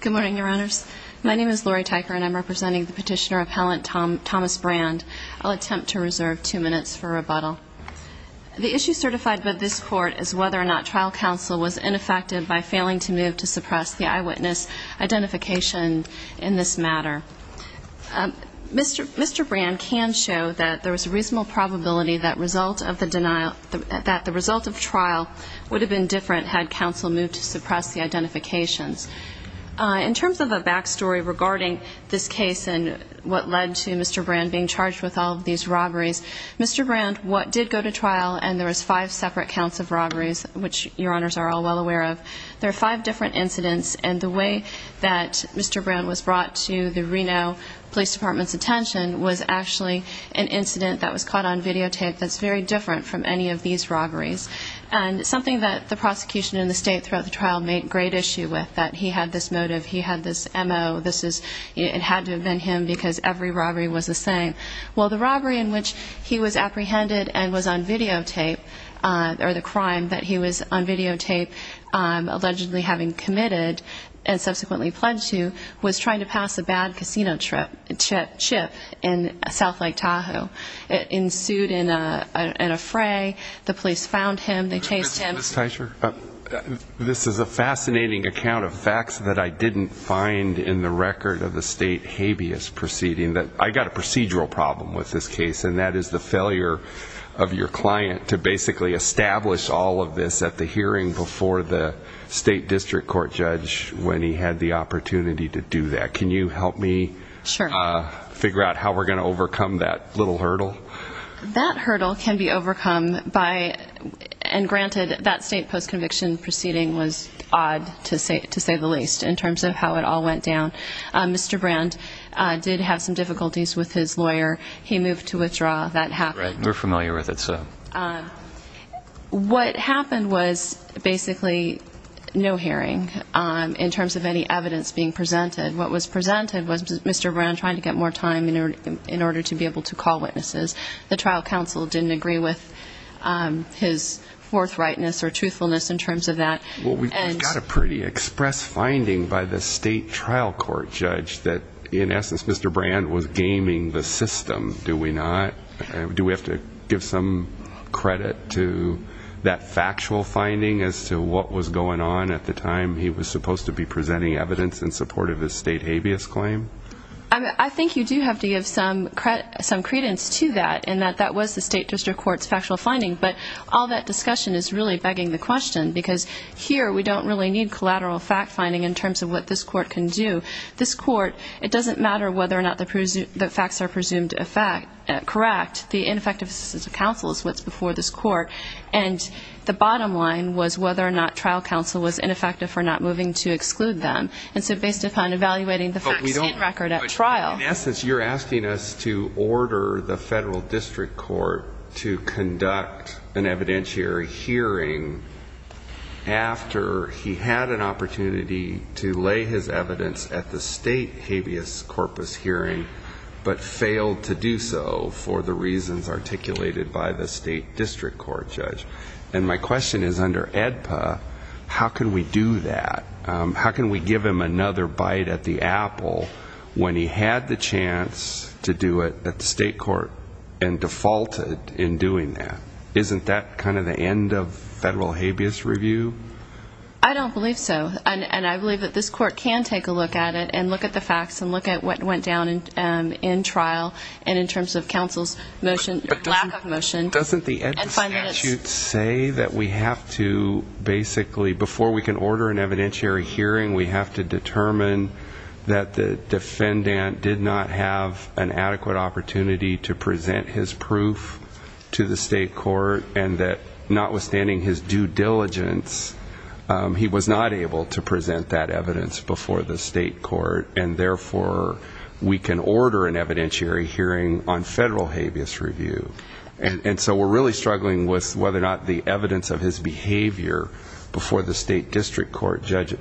Good morning, Your Honors. My name is Lori Tyker and I'm representing the Petitioner Appellant Thomas Brand. I'll attempt to reserve two minutes for rebuttal. The issue certified by this Court is whether or not trial counsel was ineffective by failing to move to suppress the eyewitness identification in this matter. Mr. Brand can show that there was a reasonable probability that the result of trial would have been different had counsel moved to suppress the identifications. In terms of a back story regarding this case and what led to Mr. Brand being charged with all of these robberies, Mr. Brand, what did go to trial, and there was five separate counts of robberies, which Your Honors are all well aware of, there are five different incidents, and the way that Mr. Brand was brought to the Reno Police Department's attention was actually an incident that was caught on videotape that's very different from any of these robberies, and something that the prosecution in the state throughout the trial made great issue with, that he had this motive, he had this M.O., this is, it had to have been him because every robbery was the same. Well, the robbery in which he was apprehended and was on videotape, or the crime that he was on videotape, allegedly having committed, and subsequently pledged to, was trying to pass a bad casino chip in South Lake Tahoe. It ensued in a fray, the police found him, they chased him. Ms. Teicher, this is a fascinating account of facts that I didn't find in the record of the state habeas proceeding. I've got a procedural problem with this case, and that is the failure of your client to basically establish all of this at the hearing before the state district court judge, when he had the opportunity to do that. Can you help me figure out how we're going to overcome that little hurdle? That hurdle can be overcome by, and granted, that state post-conviction proceeding was odd to say the least, in terms of how it all went down. Mr. Brand did have some difficulties with his lawyer, he moved to withdraw, that happened. We're familiar with it, so. What happened was, basically, no hearing, in terms of any evidence being presented. What was presented was Mr. Brand trying to get more time in order to be able to call witnesses. The trial counsel didn't agree with his forthrightness or truthfulness in terms of that. Well, we've got a pretty express finding by the state trial court judge that, in essence, Mr. Brand was gaming the system, do we not? Do we have to give some credit to that factual finding as to what was going on at the time he was supposed to be presenting evidence in support of his state habeas claim? I think you do have to give some credence to that, in that that was the state district court's factual finding, but all that discussion is really begging the question, because here we don't really need collateral fact-finding in terms of what this court can do. This court, it doesn't matter whether or not the facts are presumed correct. The ineffective assistance of counsel is what's before this court, and the bottom line was whether or not trial counsel was ineffective for not moving to exclude them. And so, based upon evaluating the facts and record at trial. But we don't, in essence, you're asking us to order the federal district court to conduct an evidentiary hearing after he had an opportunity to lay his evidence at the state hearing, federal habeas corpus hearing, but failed to do so for the reasons articulated by the state district court judge. And my question is, under AEDPA, how can we do that? How can we give him another bite at the apple when he had the chance to do it at the state court and defaulted in doing that? Isn't that kind of the end of federal habeas review? I don't believe so. And I believe that this court can take a look at it and look at the facts and look at what went down in trial and in terms of counsel's motion, lack of motion. But doesn't the statute say that we have to basically, before we can order an evidentiary hearing, we have to determine that the defendant did not have an adequate opportunity to present his proof to the state court and that notwithstanding his due diligence, he was not able to present that evidence before the state court, and therefore we can order an evidentiary hearing on federal habeas review. And so we're really struggling with whether or not the evidence of his behavior before the state district court judge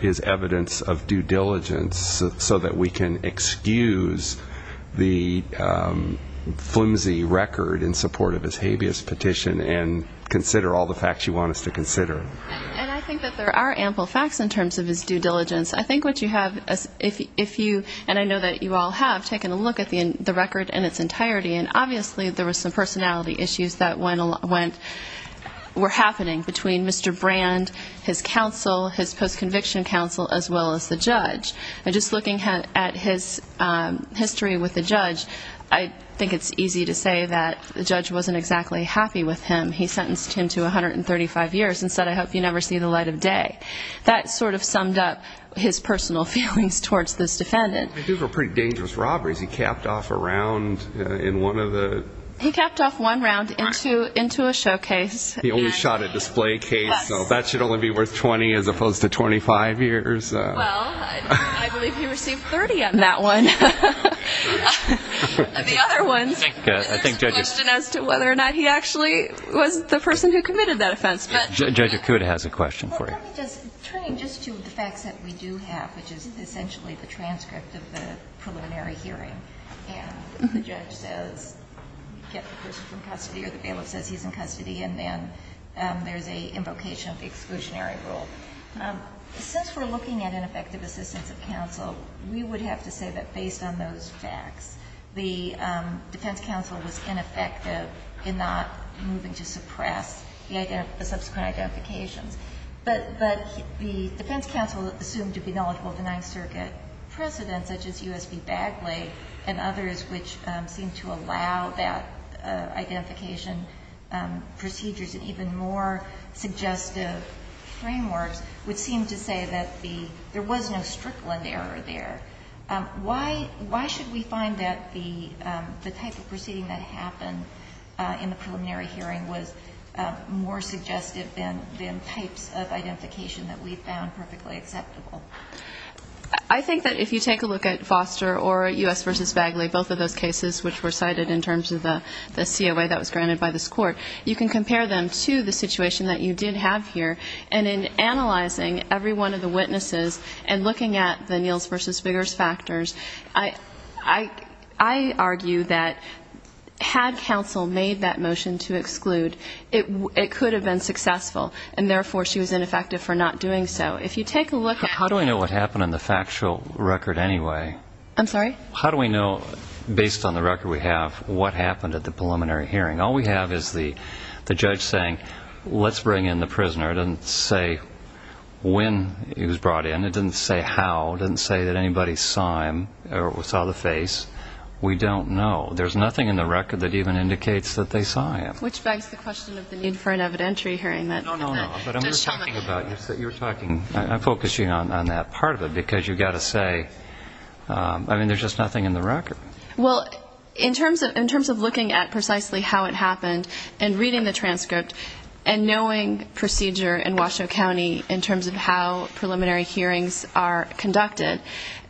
is evidence of due diligence so that we can excuse the flimsy record in support of his habeas petition and consider all the facts you want us to consider. And I think that there are ample facts in terms of his due diligence. I think what you have, if you, and I know that you all have, taken a look at the record in its entirety and obviously there were some personality issues that went, were happening between Mr. Brand, his counsel, his post-conviction counsel, as well as the judge. And just looking at his history with the judge, I think it's easy to say that the judge wasn't exactly happy with him. He sentenced him to 135 years and said, I hope you never see the light of day. That sort of summed up his personal feelings towards this defendant. These were pretty dangerous robberies. He capped off a round in one of the... He capped off one round into a showcase. He only shot a display case, so that should only be worth 20 as opposed to 25 years. Well, I believe he received 30 on that one. The other ones, there's a question as to whether or not he actually was the person who committed that offense, but... Judge Acuda has a question for you. Turning just to the facts that we do have, which is essentially the transcript of the preliminary hearing, and the judge says we get the person from custody or the bailiff says he's in custody, and then there's an invocation of the exclusionary rule. Since we're looking at ineffective assistance of counsel, we would have to say that based on those facts, the defense counsel was ineffective in not moving to suppress the subsequent identifications. But the defense counsel assumed to be knowledgeable of the Ninth Circuit precedents, such as U.S. v. Bagley, and others which seem to allow that identification procedures in even more suggestive frameworks, which seem to say that there was no Strickland error there. Why should we find that the type of proceeding that happened in the preliminary hearing was more suggestive than types of identification that we found perfectly acceptable? I think that if you take a look at Foster or U.S. v. Bagley, both of those cases which were cited in terms of the COA that was granted by this court, you can compare them to the situation that you did have here. And in analyzing every one of the witnesses and looking at the Niels v. Biggers factors, I argue that had counsel made that motion to exclude, it could have been successful. And therefore, she was ineffective for not doing so. If you take a look at How do we know what happened in the factual record anyway? I'm sorry? How do we know, based on the record we have, what happened at the preliminary hearing? All we have is the judge saying, let's bring in the prisoner. It doesn't say when he was brought in. It doesn't say how. It doesn't say that anybody saw him or saw the face. We don't know. There's nothing in the record that even indicates that they saw him. Which begs the question of the need for an evidentiary hearing. No, no, no. But you're talking, I'm focusing on that part of it, because you've got to say I mean, there's just nothing in the record. Well, in terms of looking at precisely how it happened, and reading the transcript, and knowing procedure in Washoe County, in terms of how preliminary hearings are conducted,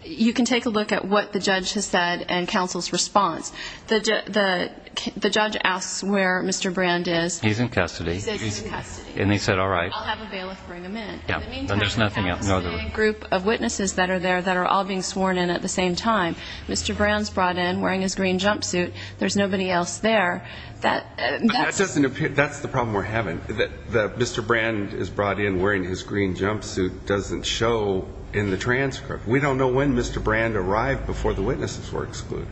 you can take a look at what the judge has said and counsel's response. The judge asks where Mr. Brand is. He's in custody. He's in custody. And he said, all right. I'll have a bailiff bring him in. There's nothing else. There's a group of witnesses that are there that are all being sworn in at the same time. Mr. Brand's brought in wearing his green jumpsuit. There's nobody else there. That's the problem we're having. That Mr. Brand is brought in wearing his green jumpsuit doesn't show in the transcript. We don't know when Mr. Brand arrived before the witnesses were excluded.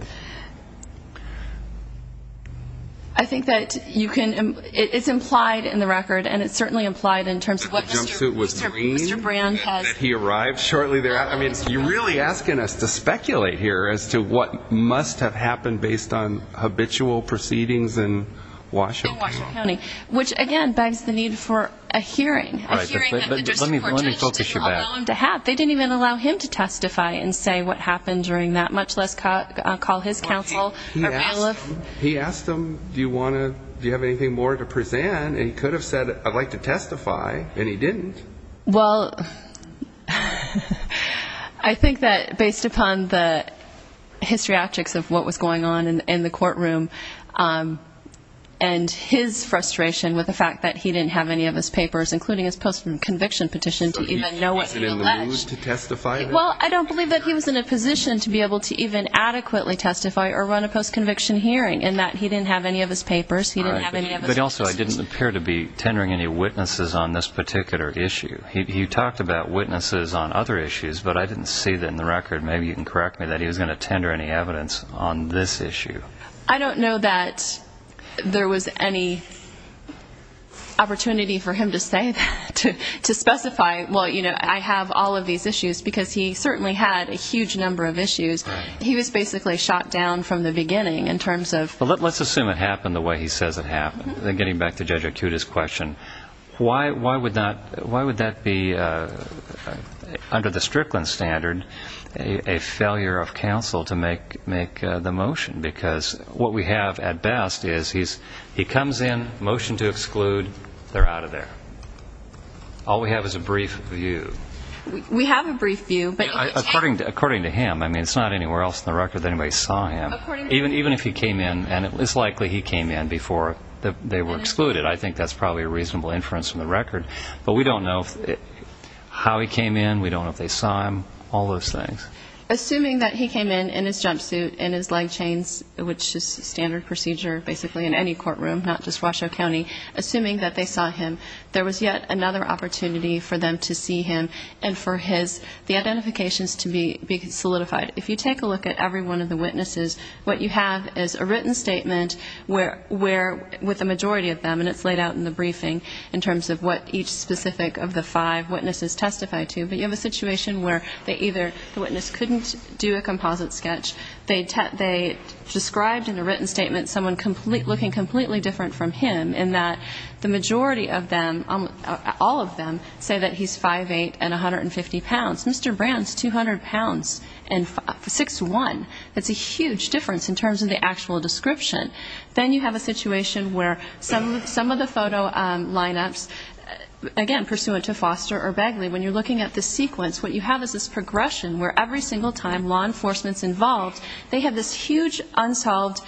I think that you can, it's implied in the record, and it's certainly implied in terms of what the green jumpsuit was green and that he arrived shortly thereafter. I mean, you're really asking us to speculate here as to what must have happened based on habitual proceedings in Washoe County. In Washoe County. Which, again, begs the need for a hearing. A hearing that the district court judge didn't allow him to have. They didn't even allow him to testify and say what happened during that. Much less call his counsel or bailiff. He asked them, do you want to, do you have anything more to present? He could have said, I'd like to testify, and he didn't. Well, I think that based upon the histriatrics of what was going on in the courtroom, and his frustration with the fact that he didn't have any of his papers, including his post-conviction petition to even know what he alleged. He wasn't in the mood to testify? Well, I don't believe that he was in a position to be able to even adequately testify or run a post-conviction hearing in that he didn't have any of his papers. But also, I didn't appear to be tendering any witnesses on this particular issue. He talked about witnesses on other issues, but I didn't see that in the record, maybe you can correct me, that he was going to tender any evidence on this issue. I don't know that there was any opportunity for him to say that. To specify, well, you know, I have all of these issues. Because he certainly had a huge number of issues. He was basically shot down from the beginning in terms of... Well, let's assume it happened the way he says it happened. Getting back to Judge Acuta's question, why would that be, under the Strickland standard, a failure of counsel to make the motion? Because what we have at best is he comes in, motion to exclude, they're out of there. All we have is a brief view. We have a brief view, but... According to him. I mean, it's not anywhere else in the record that anybody saw him. Even if he came in, and it's likely he came in before they were excluded, I think that's probably a reasonable inference from the record. But we don't know how he came in, we don't know if they saw him, all those things. Assuming that he came in in his jumpsuit, in his leg chains, which is standard procedure basically in any courtroom, not just Washoe County, assuming that they saw him, there was yet another opportunity for them to see him and for the identifications to be solidified. If you take a look at every one of the witnesses, what you have is a written statement with the majority of them, and it's laid out in the briefing, in terms of what each specific of the five witnesses testified to, but you have a situation where they either, the witness couldn't do a composite sketch, they described in a written statement someone looking completely different from him, in that the majority of them, all of them, say that he's 5'8 and 150 pounds. Mr. Brown's 200 pounds and 6'1. That's a huge difference in terms of the actual description. Then you have a situation where some of the photo lineups, again, pursuant to Foster or Begley, when you're looking at the sequence, what you have is this progression where every single time law enforcement's involved, they have this huge unsolved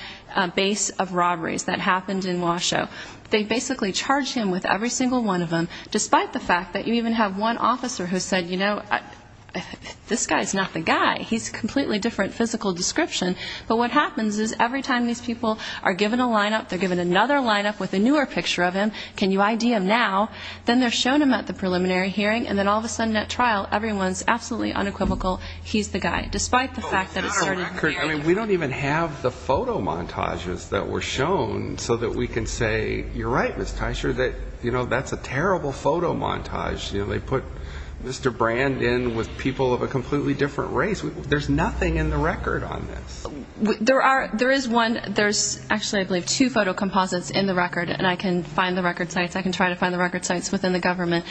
base of robberies that happened in Washoe. They basically charge him with every single one of them, despite the fact that you even have one officer who said, you know, this guy's not the guy, he's a completely different physical description, but what happens is every time these people are given a lineup, they're given another lineup with a newer picture of him, can you ID him now? Then they're shown him at the preliminary hearing, and then all of a sudden at trial, everyone's absolutely unequivocal, he's the guy, despite the fact that it started here. We don't even have the photo montages that were shown so that we can say, you're right, Ms. Teicher, that that's a terrible photo montage. They put Mr. Brand in with people of a completely different race. There's nothing in the record on this. There is one, there's actually I believe two photo composites in the record, and I can find the record sites, I can try to find the record sites within the government.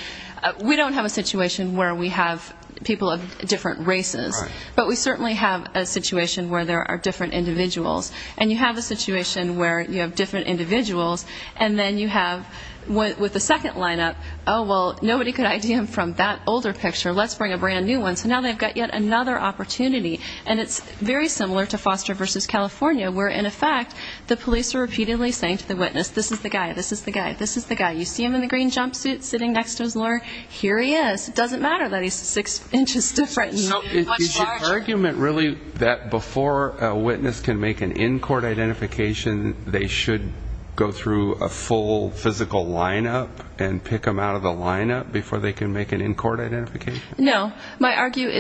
We don't have a situation where we have people of different races, but we certainly have a situation where there are different individuals. And you have a situation where you have different individuals, and then you have with the second lineup, oh, well, nobody could ID him from that older picture, let's bring a brand new one. So now they've got yet another opportunity, and it's very similar to Foster versus California, where in effect the police are repeatedly saying to the witness, this is the guy, this is the guy, this is the guy. You see him in the green jumpsuit sitting next to his lawyer, here he is. It doesn't matter that he's six inches different. So is your argument really that before a witness can make an in-court identification, they should go through a full physical lineup and pick him out of the lineup before they can make an in-court identification? No, my argument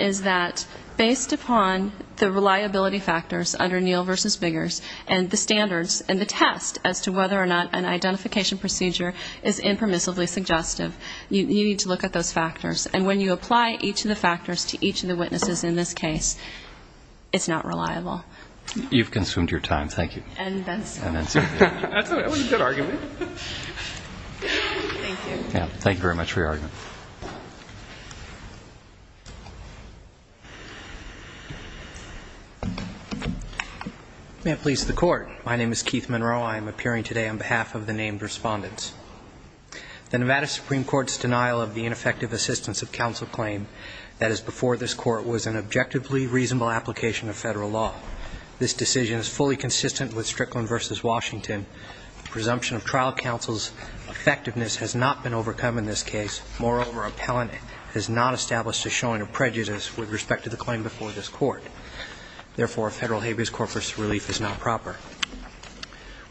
is that based upon the reliability factors under Neal versus Biggers, and the standards and the test as to whether or not an identification procedure is impermissibly suggestive, you need to look at those factors. And when you apply each of the factors to each of the witnesses in this case, it's not reliable. You've consumed your time. Thank you. And that's it. That was a good argument. Thank you. Thank you very much for your argument. May it please the Court. My name is Keith Monroe. I am appearing today on behalf of the named respondents. The Nevada Supreme Court's denial of the ineffective assistance of counsel claim that is before this Court was an objectively reasonable application of Federal law. This decision is fully consistent with Strickland versus Washington. The presumption of trial counsel's effectiveness has not been overcome in this case. Moreover, appellant has not established a showing of prejudice with respect to the claim before this Court. Therefore, Federal habeas corpus relief is not proper.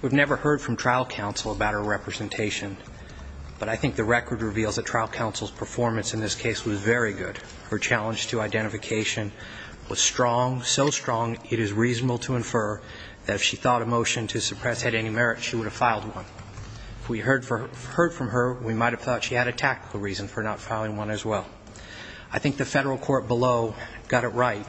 We've never heard from trial counsel about her representation, but I think the record reveals that trial counsel's performance in this case was very good. Her challenge to identification was strong, so strong it is reasonable to infer that if she thought a motion to suppress had any merit, she would have filed one. If we heard from her, we might have thought she had a tactical reason for not filing one as well. I think the Federal court below got it right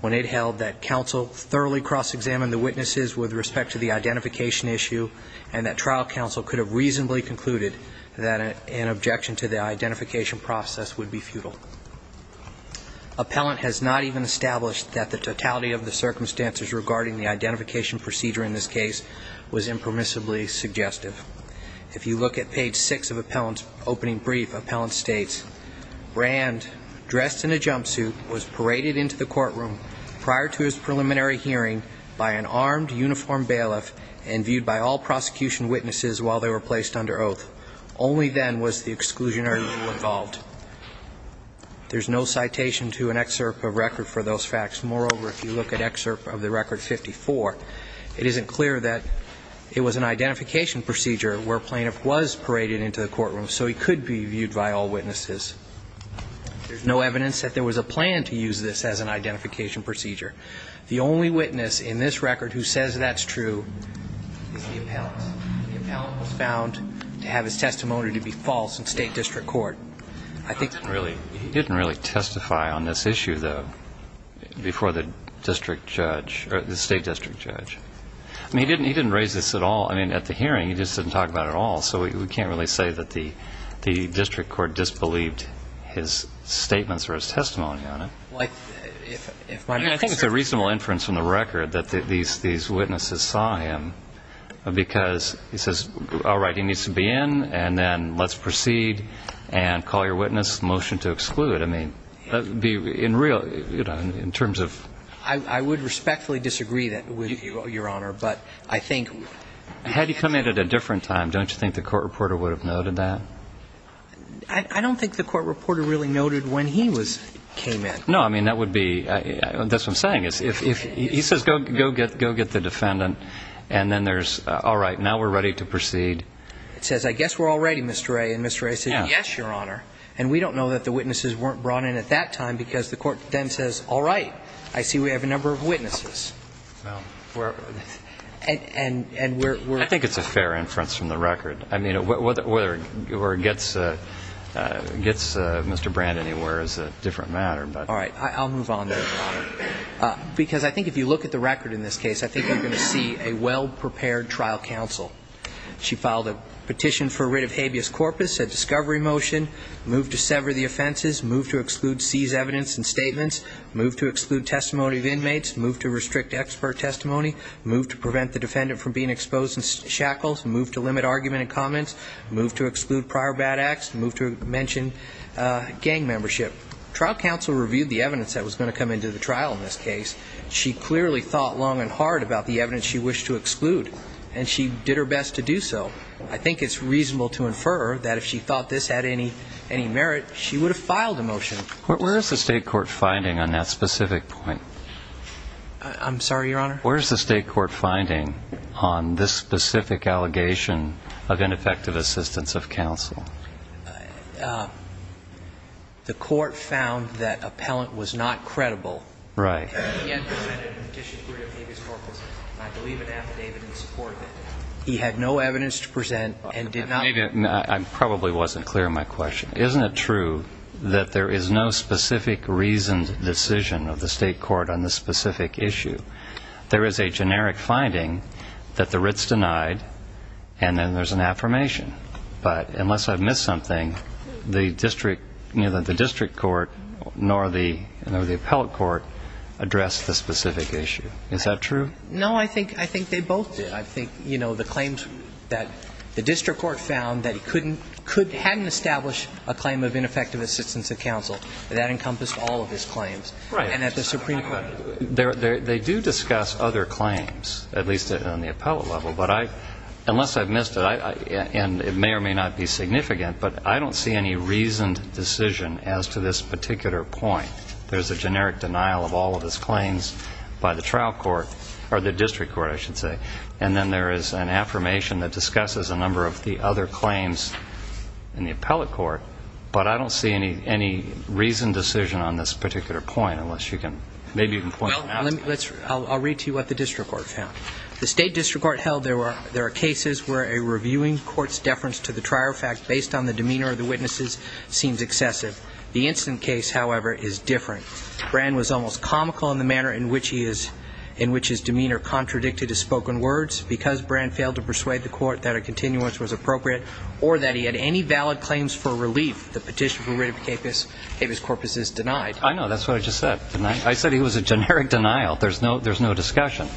when it held that counsel thoroughly cross-examined the witnesses with respect to the identification issue and that trial counsel could have reasonably concluded that an objection to the identification process would be futile. Appellant has not even established that the totality of the circumstances regarding the identification procedure in this case was impermissibly suggestive. If you look at page 6 of appellant's opening brief, appellant states, Rand, dressed in a jumpsuit, was paraded into the courtroom prior to his preliminary hearing by an armed uniformed bailiff and viewed by all prosecution witnesses while they were placed under oath. Only then was the exclusionary rule involved. There's no citation to an excerpt of record for those facts. Moreover, if you look at excerpt of the record 54, it isn't clear that it was an identification procedure where plaintiff was paraded into the courtroom, so he could be viewed by all witnesses. There's no evidence that there was a plan to use this as an identification procedure. The only witness in this record who says that's true is the appellant. The appellant was found to have his testimony to be false in state district court. He didn't really testify on this issue, though, before the district judge, or the state district judge. I mean, he didn't raise this at all. So we can't really say that the district court disbelieved his statements or his testimony on it. I think it's a reasonable inference from the record that these witnesses saw him, because he says, all right, he needs to be in, and then let's proceed and call your witness, motion to exclude. I mean, in terms of... I would respectfully disagree with you, Your Honor, but I think... Had he come in at a different time, don't you think the court reporter would have noted that? I don't think the court reporter really noted when he came in. No, I mean, that would be... That's what I'm saying. He says, go get the defendant, and then there's, all right, now we're ready to proceed. It says, I guess we're all ready, Mr. Ray, and Mr. Ray says, yes, Your Honor. And we don't know that the witnesses weren't brought in at that time, because the court then says, all right, I see we have a number of witnesses. And we're... I think it's a fair inference from the record. I mean, whether it gets Mr. Brand anywhere is a different matter, but... All right. I'll move on there, Your Honor, because I think if you look at the record in this case, I think you're going to see a well-prepared trial counsel. She filed a petition for writ of habeas corpus, a discovery motion, moved to sever the offenses, moved to exclude seized evidence and statements, moved to exclude testimony of inmates, moved to restrict expert testimony, moved to prevent the defendant from being exposed in shackles, moved to limit argument and comments, moved to exclude prior bad acts, moved to mention gang membership. Trial counsel reviewed the evidence that was going to come into the trial in this case. She clearly thought long and hard about the evidence she wished to exclude. And she did her best to do so. I think it's reasonable to infer that if she thought this had any merit, she would have filed a motion. Where is the state court finding on that specific point? I'm sorry, Your Honor? Where is the state court finding on this specific allegation of ineffective assistance of counsel? The court found that appellant was not credible. Right. He had presented a petition for writ of habeas corpus, and I believe an affidavit in support of it. He had no evidence to present and did not... I probably wasn't clear on my question. Isn't it true that there is no specific reasoned decision of the state court on this specific issue? There is a generic finding that the writ's denied, and then there's an affirmation. But unless I've missed something, the district, neither the district court nor the appellate court addressed the specific issue. Is that true? No, I think they both did. I think, you know, the claims that the district court found that he couldn't, hadn't established a claim of ineffective assistance of counsel, that encompassed all of his claims. Right. And that the Supreme Court... They do discuss other claims, at least on the appellate level, but I, unless I've missed it, and it may or may not be significant, but I don't see any reasoned decision as to this particular point. There's a generic denial of all of his claims by the trial court, or the district court, I should say. And then there is an affirmation that discusses a number of the other claims in the appellate court. But I don't see any reasoned decision on this particular point, unless you can, maybe you can point out... Well, let's, I'll read to you what the district court found. The state district court held there were, there are cases where a reviewing court's deference to the trial fact based on the demeanor of the witnesses seems excessive. The instant case, however, is different. Brand was almost comical in the manner in which he is, in which his demeanor contradicted his spoken words, because Brand failed to persuade the court that a continuance was appropriate, or that he had any valid claims for relief. The petition for rid of Capus Corpus is denied. I know, that's what I just said. I said it was a generic denial. There's no, there's no discussion.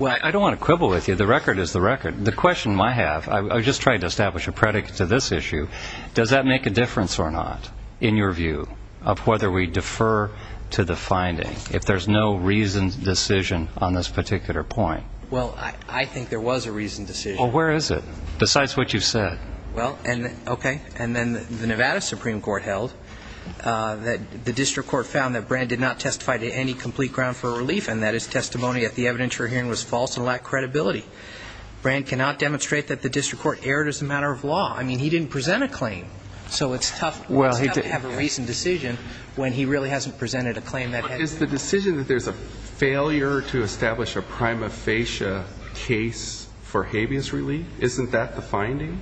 Well, I don't want to quibble with you. The record is the record. The question I have, I was just trying to establish a predicate to this issue. Does that make a difference or not, in your view, of whether we defer to the finding, if there's no reasoned decision on this particular point? Well, I think there was a reasoned decision. Well, where is it, besides what you've said? Well, and, okay, and then the Nevada Supreme Court held that the district court found that Brand did not testify to any complete ground for relief, and that his testimony at the evidence you're hearing was false and lacked credibility. Brand cannot demonstrate that the district court erred as a matter of law. I mean, he didn't present a claim. So it's tough to have a reasoned decision when he really hasn't presented a claim that has. Is the decision that there's a failure to establish a prima facie case for habeas relief, isn't that the finding?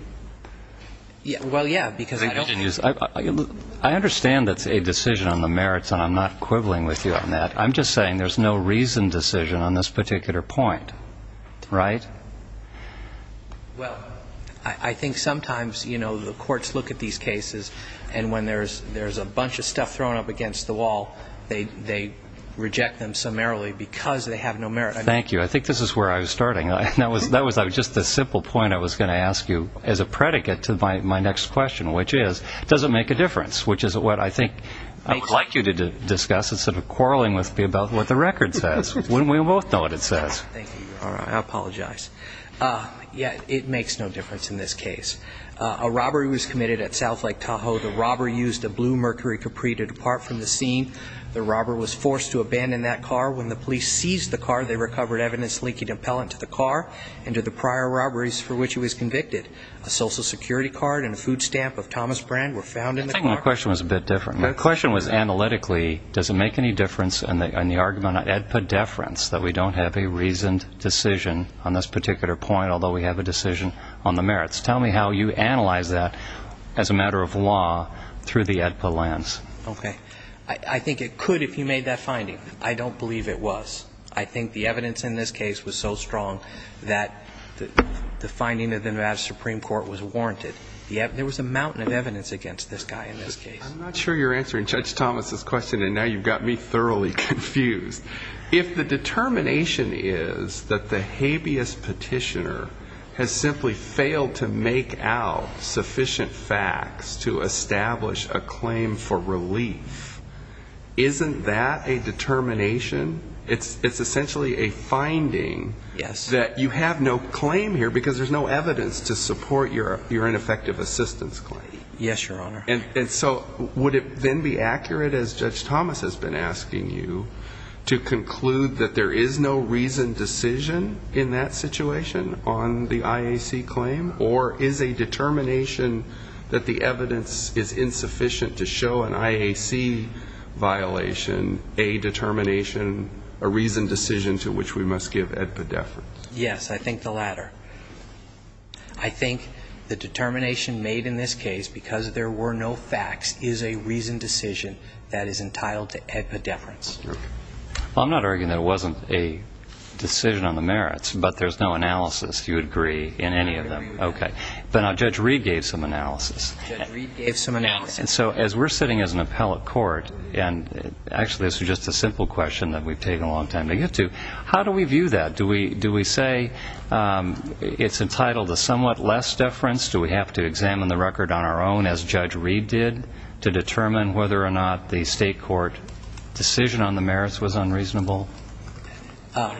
Well, yeah, because I don't. I understand that's a decision on the merits, and I'm not quibbling with you on that. I'm just saying there's no reasoned decision on this particular point, right? Well, I think sometimes, you know, the courts look at these cases, and when there's a bunch of stuff thrown up against the wall, they reject them summarily because they have no merit. Thank you. I think this is where I was starting. That was just a simple point I was going to ask you as a predicate to my next question, which is, does it make a difference, which is what I think I would like you to discuss instead of quarreling with me about what the record says. Wouldn't we both know what it says? Thank you. I apologize. Yeah, it makes no difference in this case. A robbery was committed at South Lake Tahoe. The robber used a blue Mercury Capri to depart from the scene. The robber was forced to abandon that car. When the police seized the car, they recovered evidence linking the appellant to the car and to the prior robberies for which he was convicted. A Social Security card and a food stamp of Thomas Brand were found in the car. I think my question was a bit different. My question was analytically, does it make any difference in the argument of epideference that we don't have a reasoned decision on this particular point, although we have a decision on the merits? Tell me how you analyze that as a matter of law through the AEDPA lens. Okay. I think it could if you made that finding. I don't believe it was. I think the evidence in this case was so strong that the finding of the Nevada Supreme Court was warranted. There was a mountain of evidence against this guy in this case. I'm not sure you're answering Judge Thomas' question, and now you've got me thoroughly confused. If the determination is that the habeas petitioner has simply failed to make out sufficient facts to establish a claim for relief, isn't that a determination? It's essentially a finding that you have no claim here because there's no evidence to support your ineffective assistance claim. Yes, Your Honor. And so would it then be accurate, as Judge Thomas has been asking you, to conclude that there is no reasoned decision in that situation on the IAC claim? Or is a determination that the evidence is insufficient to show an IAC violation a determination, a reasoned decision to which we must give epideference? Yes, I think the latter. I think the determination made in this case because there were no facts is a reasoned decision that is entitled to epideference. Well, I'm not arguing that it wasn't a decision on the merits, but there's no analysis, you agree, in any of them? I agree with that. Okay. But now Judge Reed gave some analysis. Judge Reed gave some analysis. And so as we're sitting as an appellate court, and actually this is just a simple question that we've taken a long time to get to, how do we view that? Do we say it's entitled to somewhat less deference? Do we have to examine the record on our own, as Judge Reed did, to determine whether or not the state court decision on the merits was unreasonable? I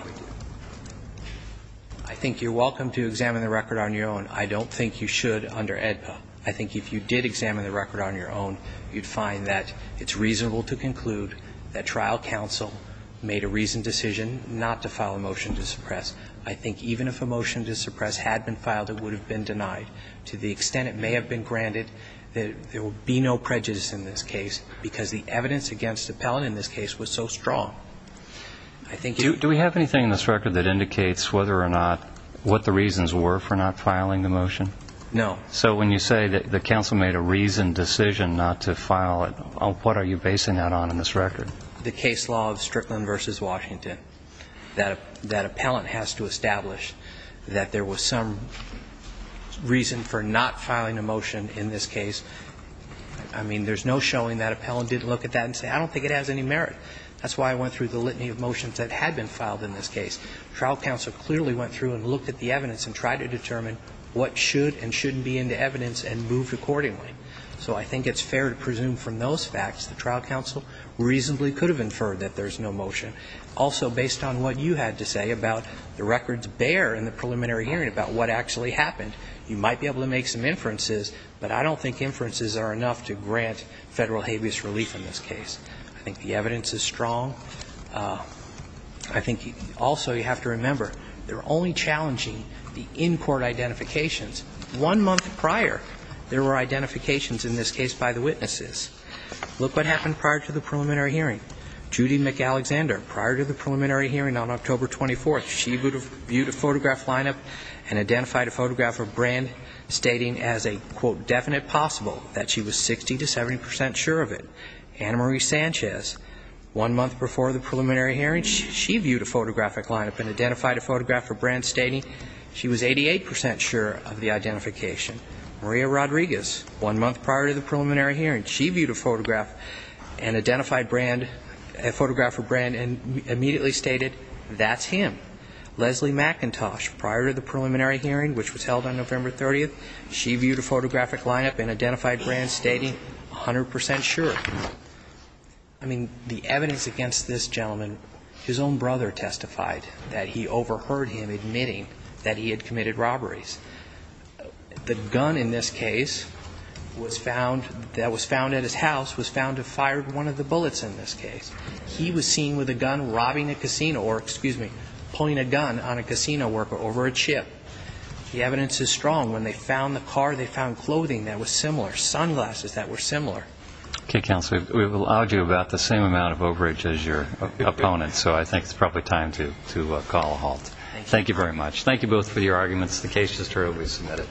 think you're welcome to examine the record on your own. I don't think you should under AEDPA. I think if you did examine the record on your own, you'd find that it's reasonable to conclude that trial counsel made a reasoned decision not to file a motion to suppress. I think even if a motion to suppress had been filed, it would have been denied. To the extent it may have been granted, there would be no prejudice in this case, because the evidence against the appellate in this case was so strong. Do we have anything in this record that indicates whether or not, what the reasons were for not filing the motion? No. So when you say that the counsel made a reasoned decision not to file it, what are you basing that on in this record? The case law of Strickland v. Washington. That appellant has to establish that there was some reason for not filing a motion in this case. I mean, there's no showing that appellant didn't look at that and say, I don't think it has any merit. That's why I went through the litany of motions that had been filed in this case. The trial counsel clearly went through and looked at the evidence and tried to determine what should and shouldn't be in the evidence and moved accordingly. So I think it's fair to presume from those facts the trial counsel reasonably could have inferred that there's no motion. Also, based on what you had to say about the records bare in the preliminary hearing about what actually happened, you might be able to make some inferences, but I don't think inferences are enough to grant Federal habeas relief in this case. I think the evidence is strong. I think also you have to remember, they're only challenging the in-court identifications. One month prior, there were identifications in this case by the witnesses. Look what happened prior to the preliminary hearing. Judy McAlexander, prior to the preliminary hearing on October 24th, she viewed a photograph lineup and identified a photograph of Brand stating as a, quote, definite possible that she was 60 to 70 percent sure of it. Anna Marie Sanchez, one month before the preliminary hearing, she viewed a photographic lineup and identified a photograph of Brand stating she was 88 percent sure of the identification. Maria Rodriguez, one month prior to the preliminary hearing, she viewed a photograph and identified Brand, a photograph of Brand and immediately stated that's him. Leslie McIntosh, prior to the preliminary hearing, which was held on November 30th, she viewed a photographic lineup and identified Brand stating 100 percent sure. I mean, the evidence against this gentleman, his own brother testified that he overheard him admitting that he had committed robberies. The gun in this case was found, that was found at his house was found to have fired one of the bullets in this case. He was seen with a gun robbing a casino or, excuse me, pulling a gun on a casino worker over a chip. The evidence is strong. When they found the car, they found clothing that was similar, sunglasses that were similar. Okay, counsel, we've allowed you about the same amount of overage as your opponent, so I think it's probably time to call a halt. Thank you very much. Thank you both for your arguments. The case is thoroughly submitted.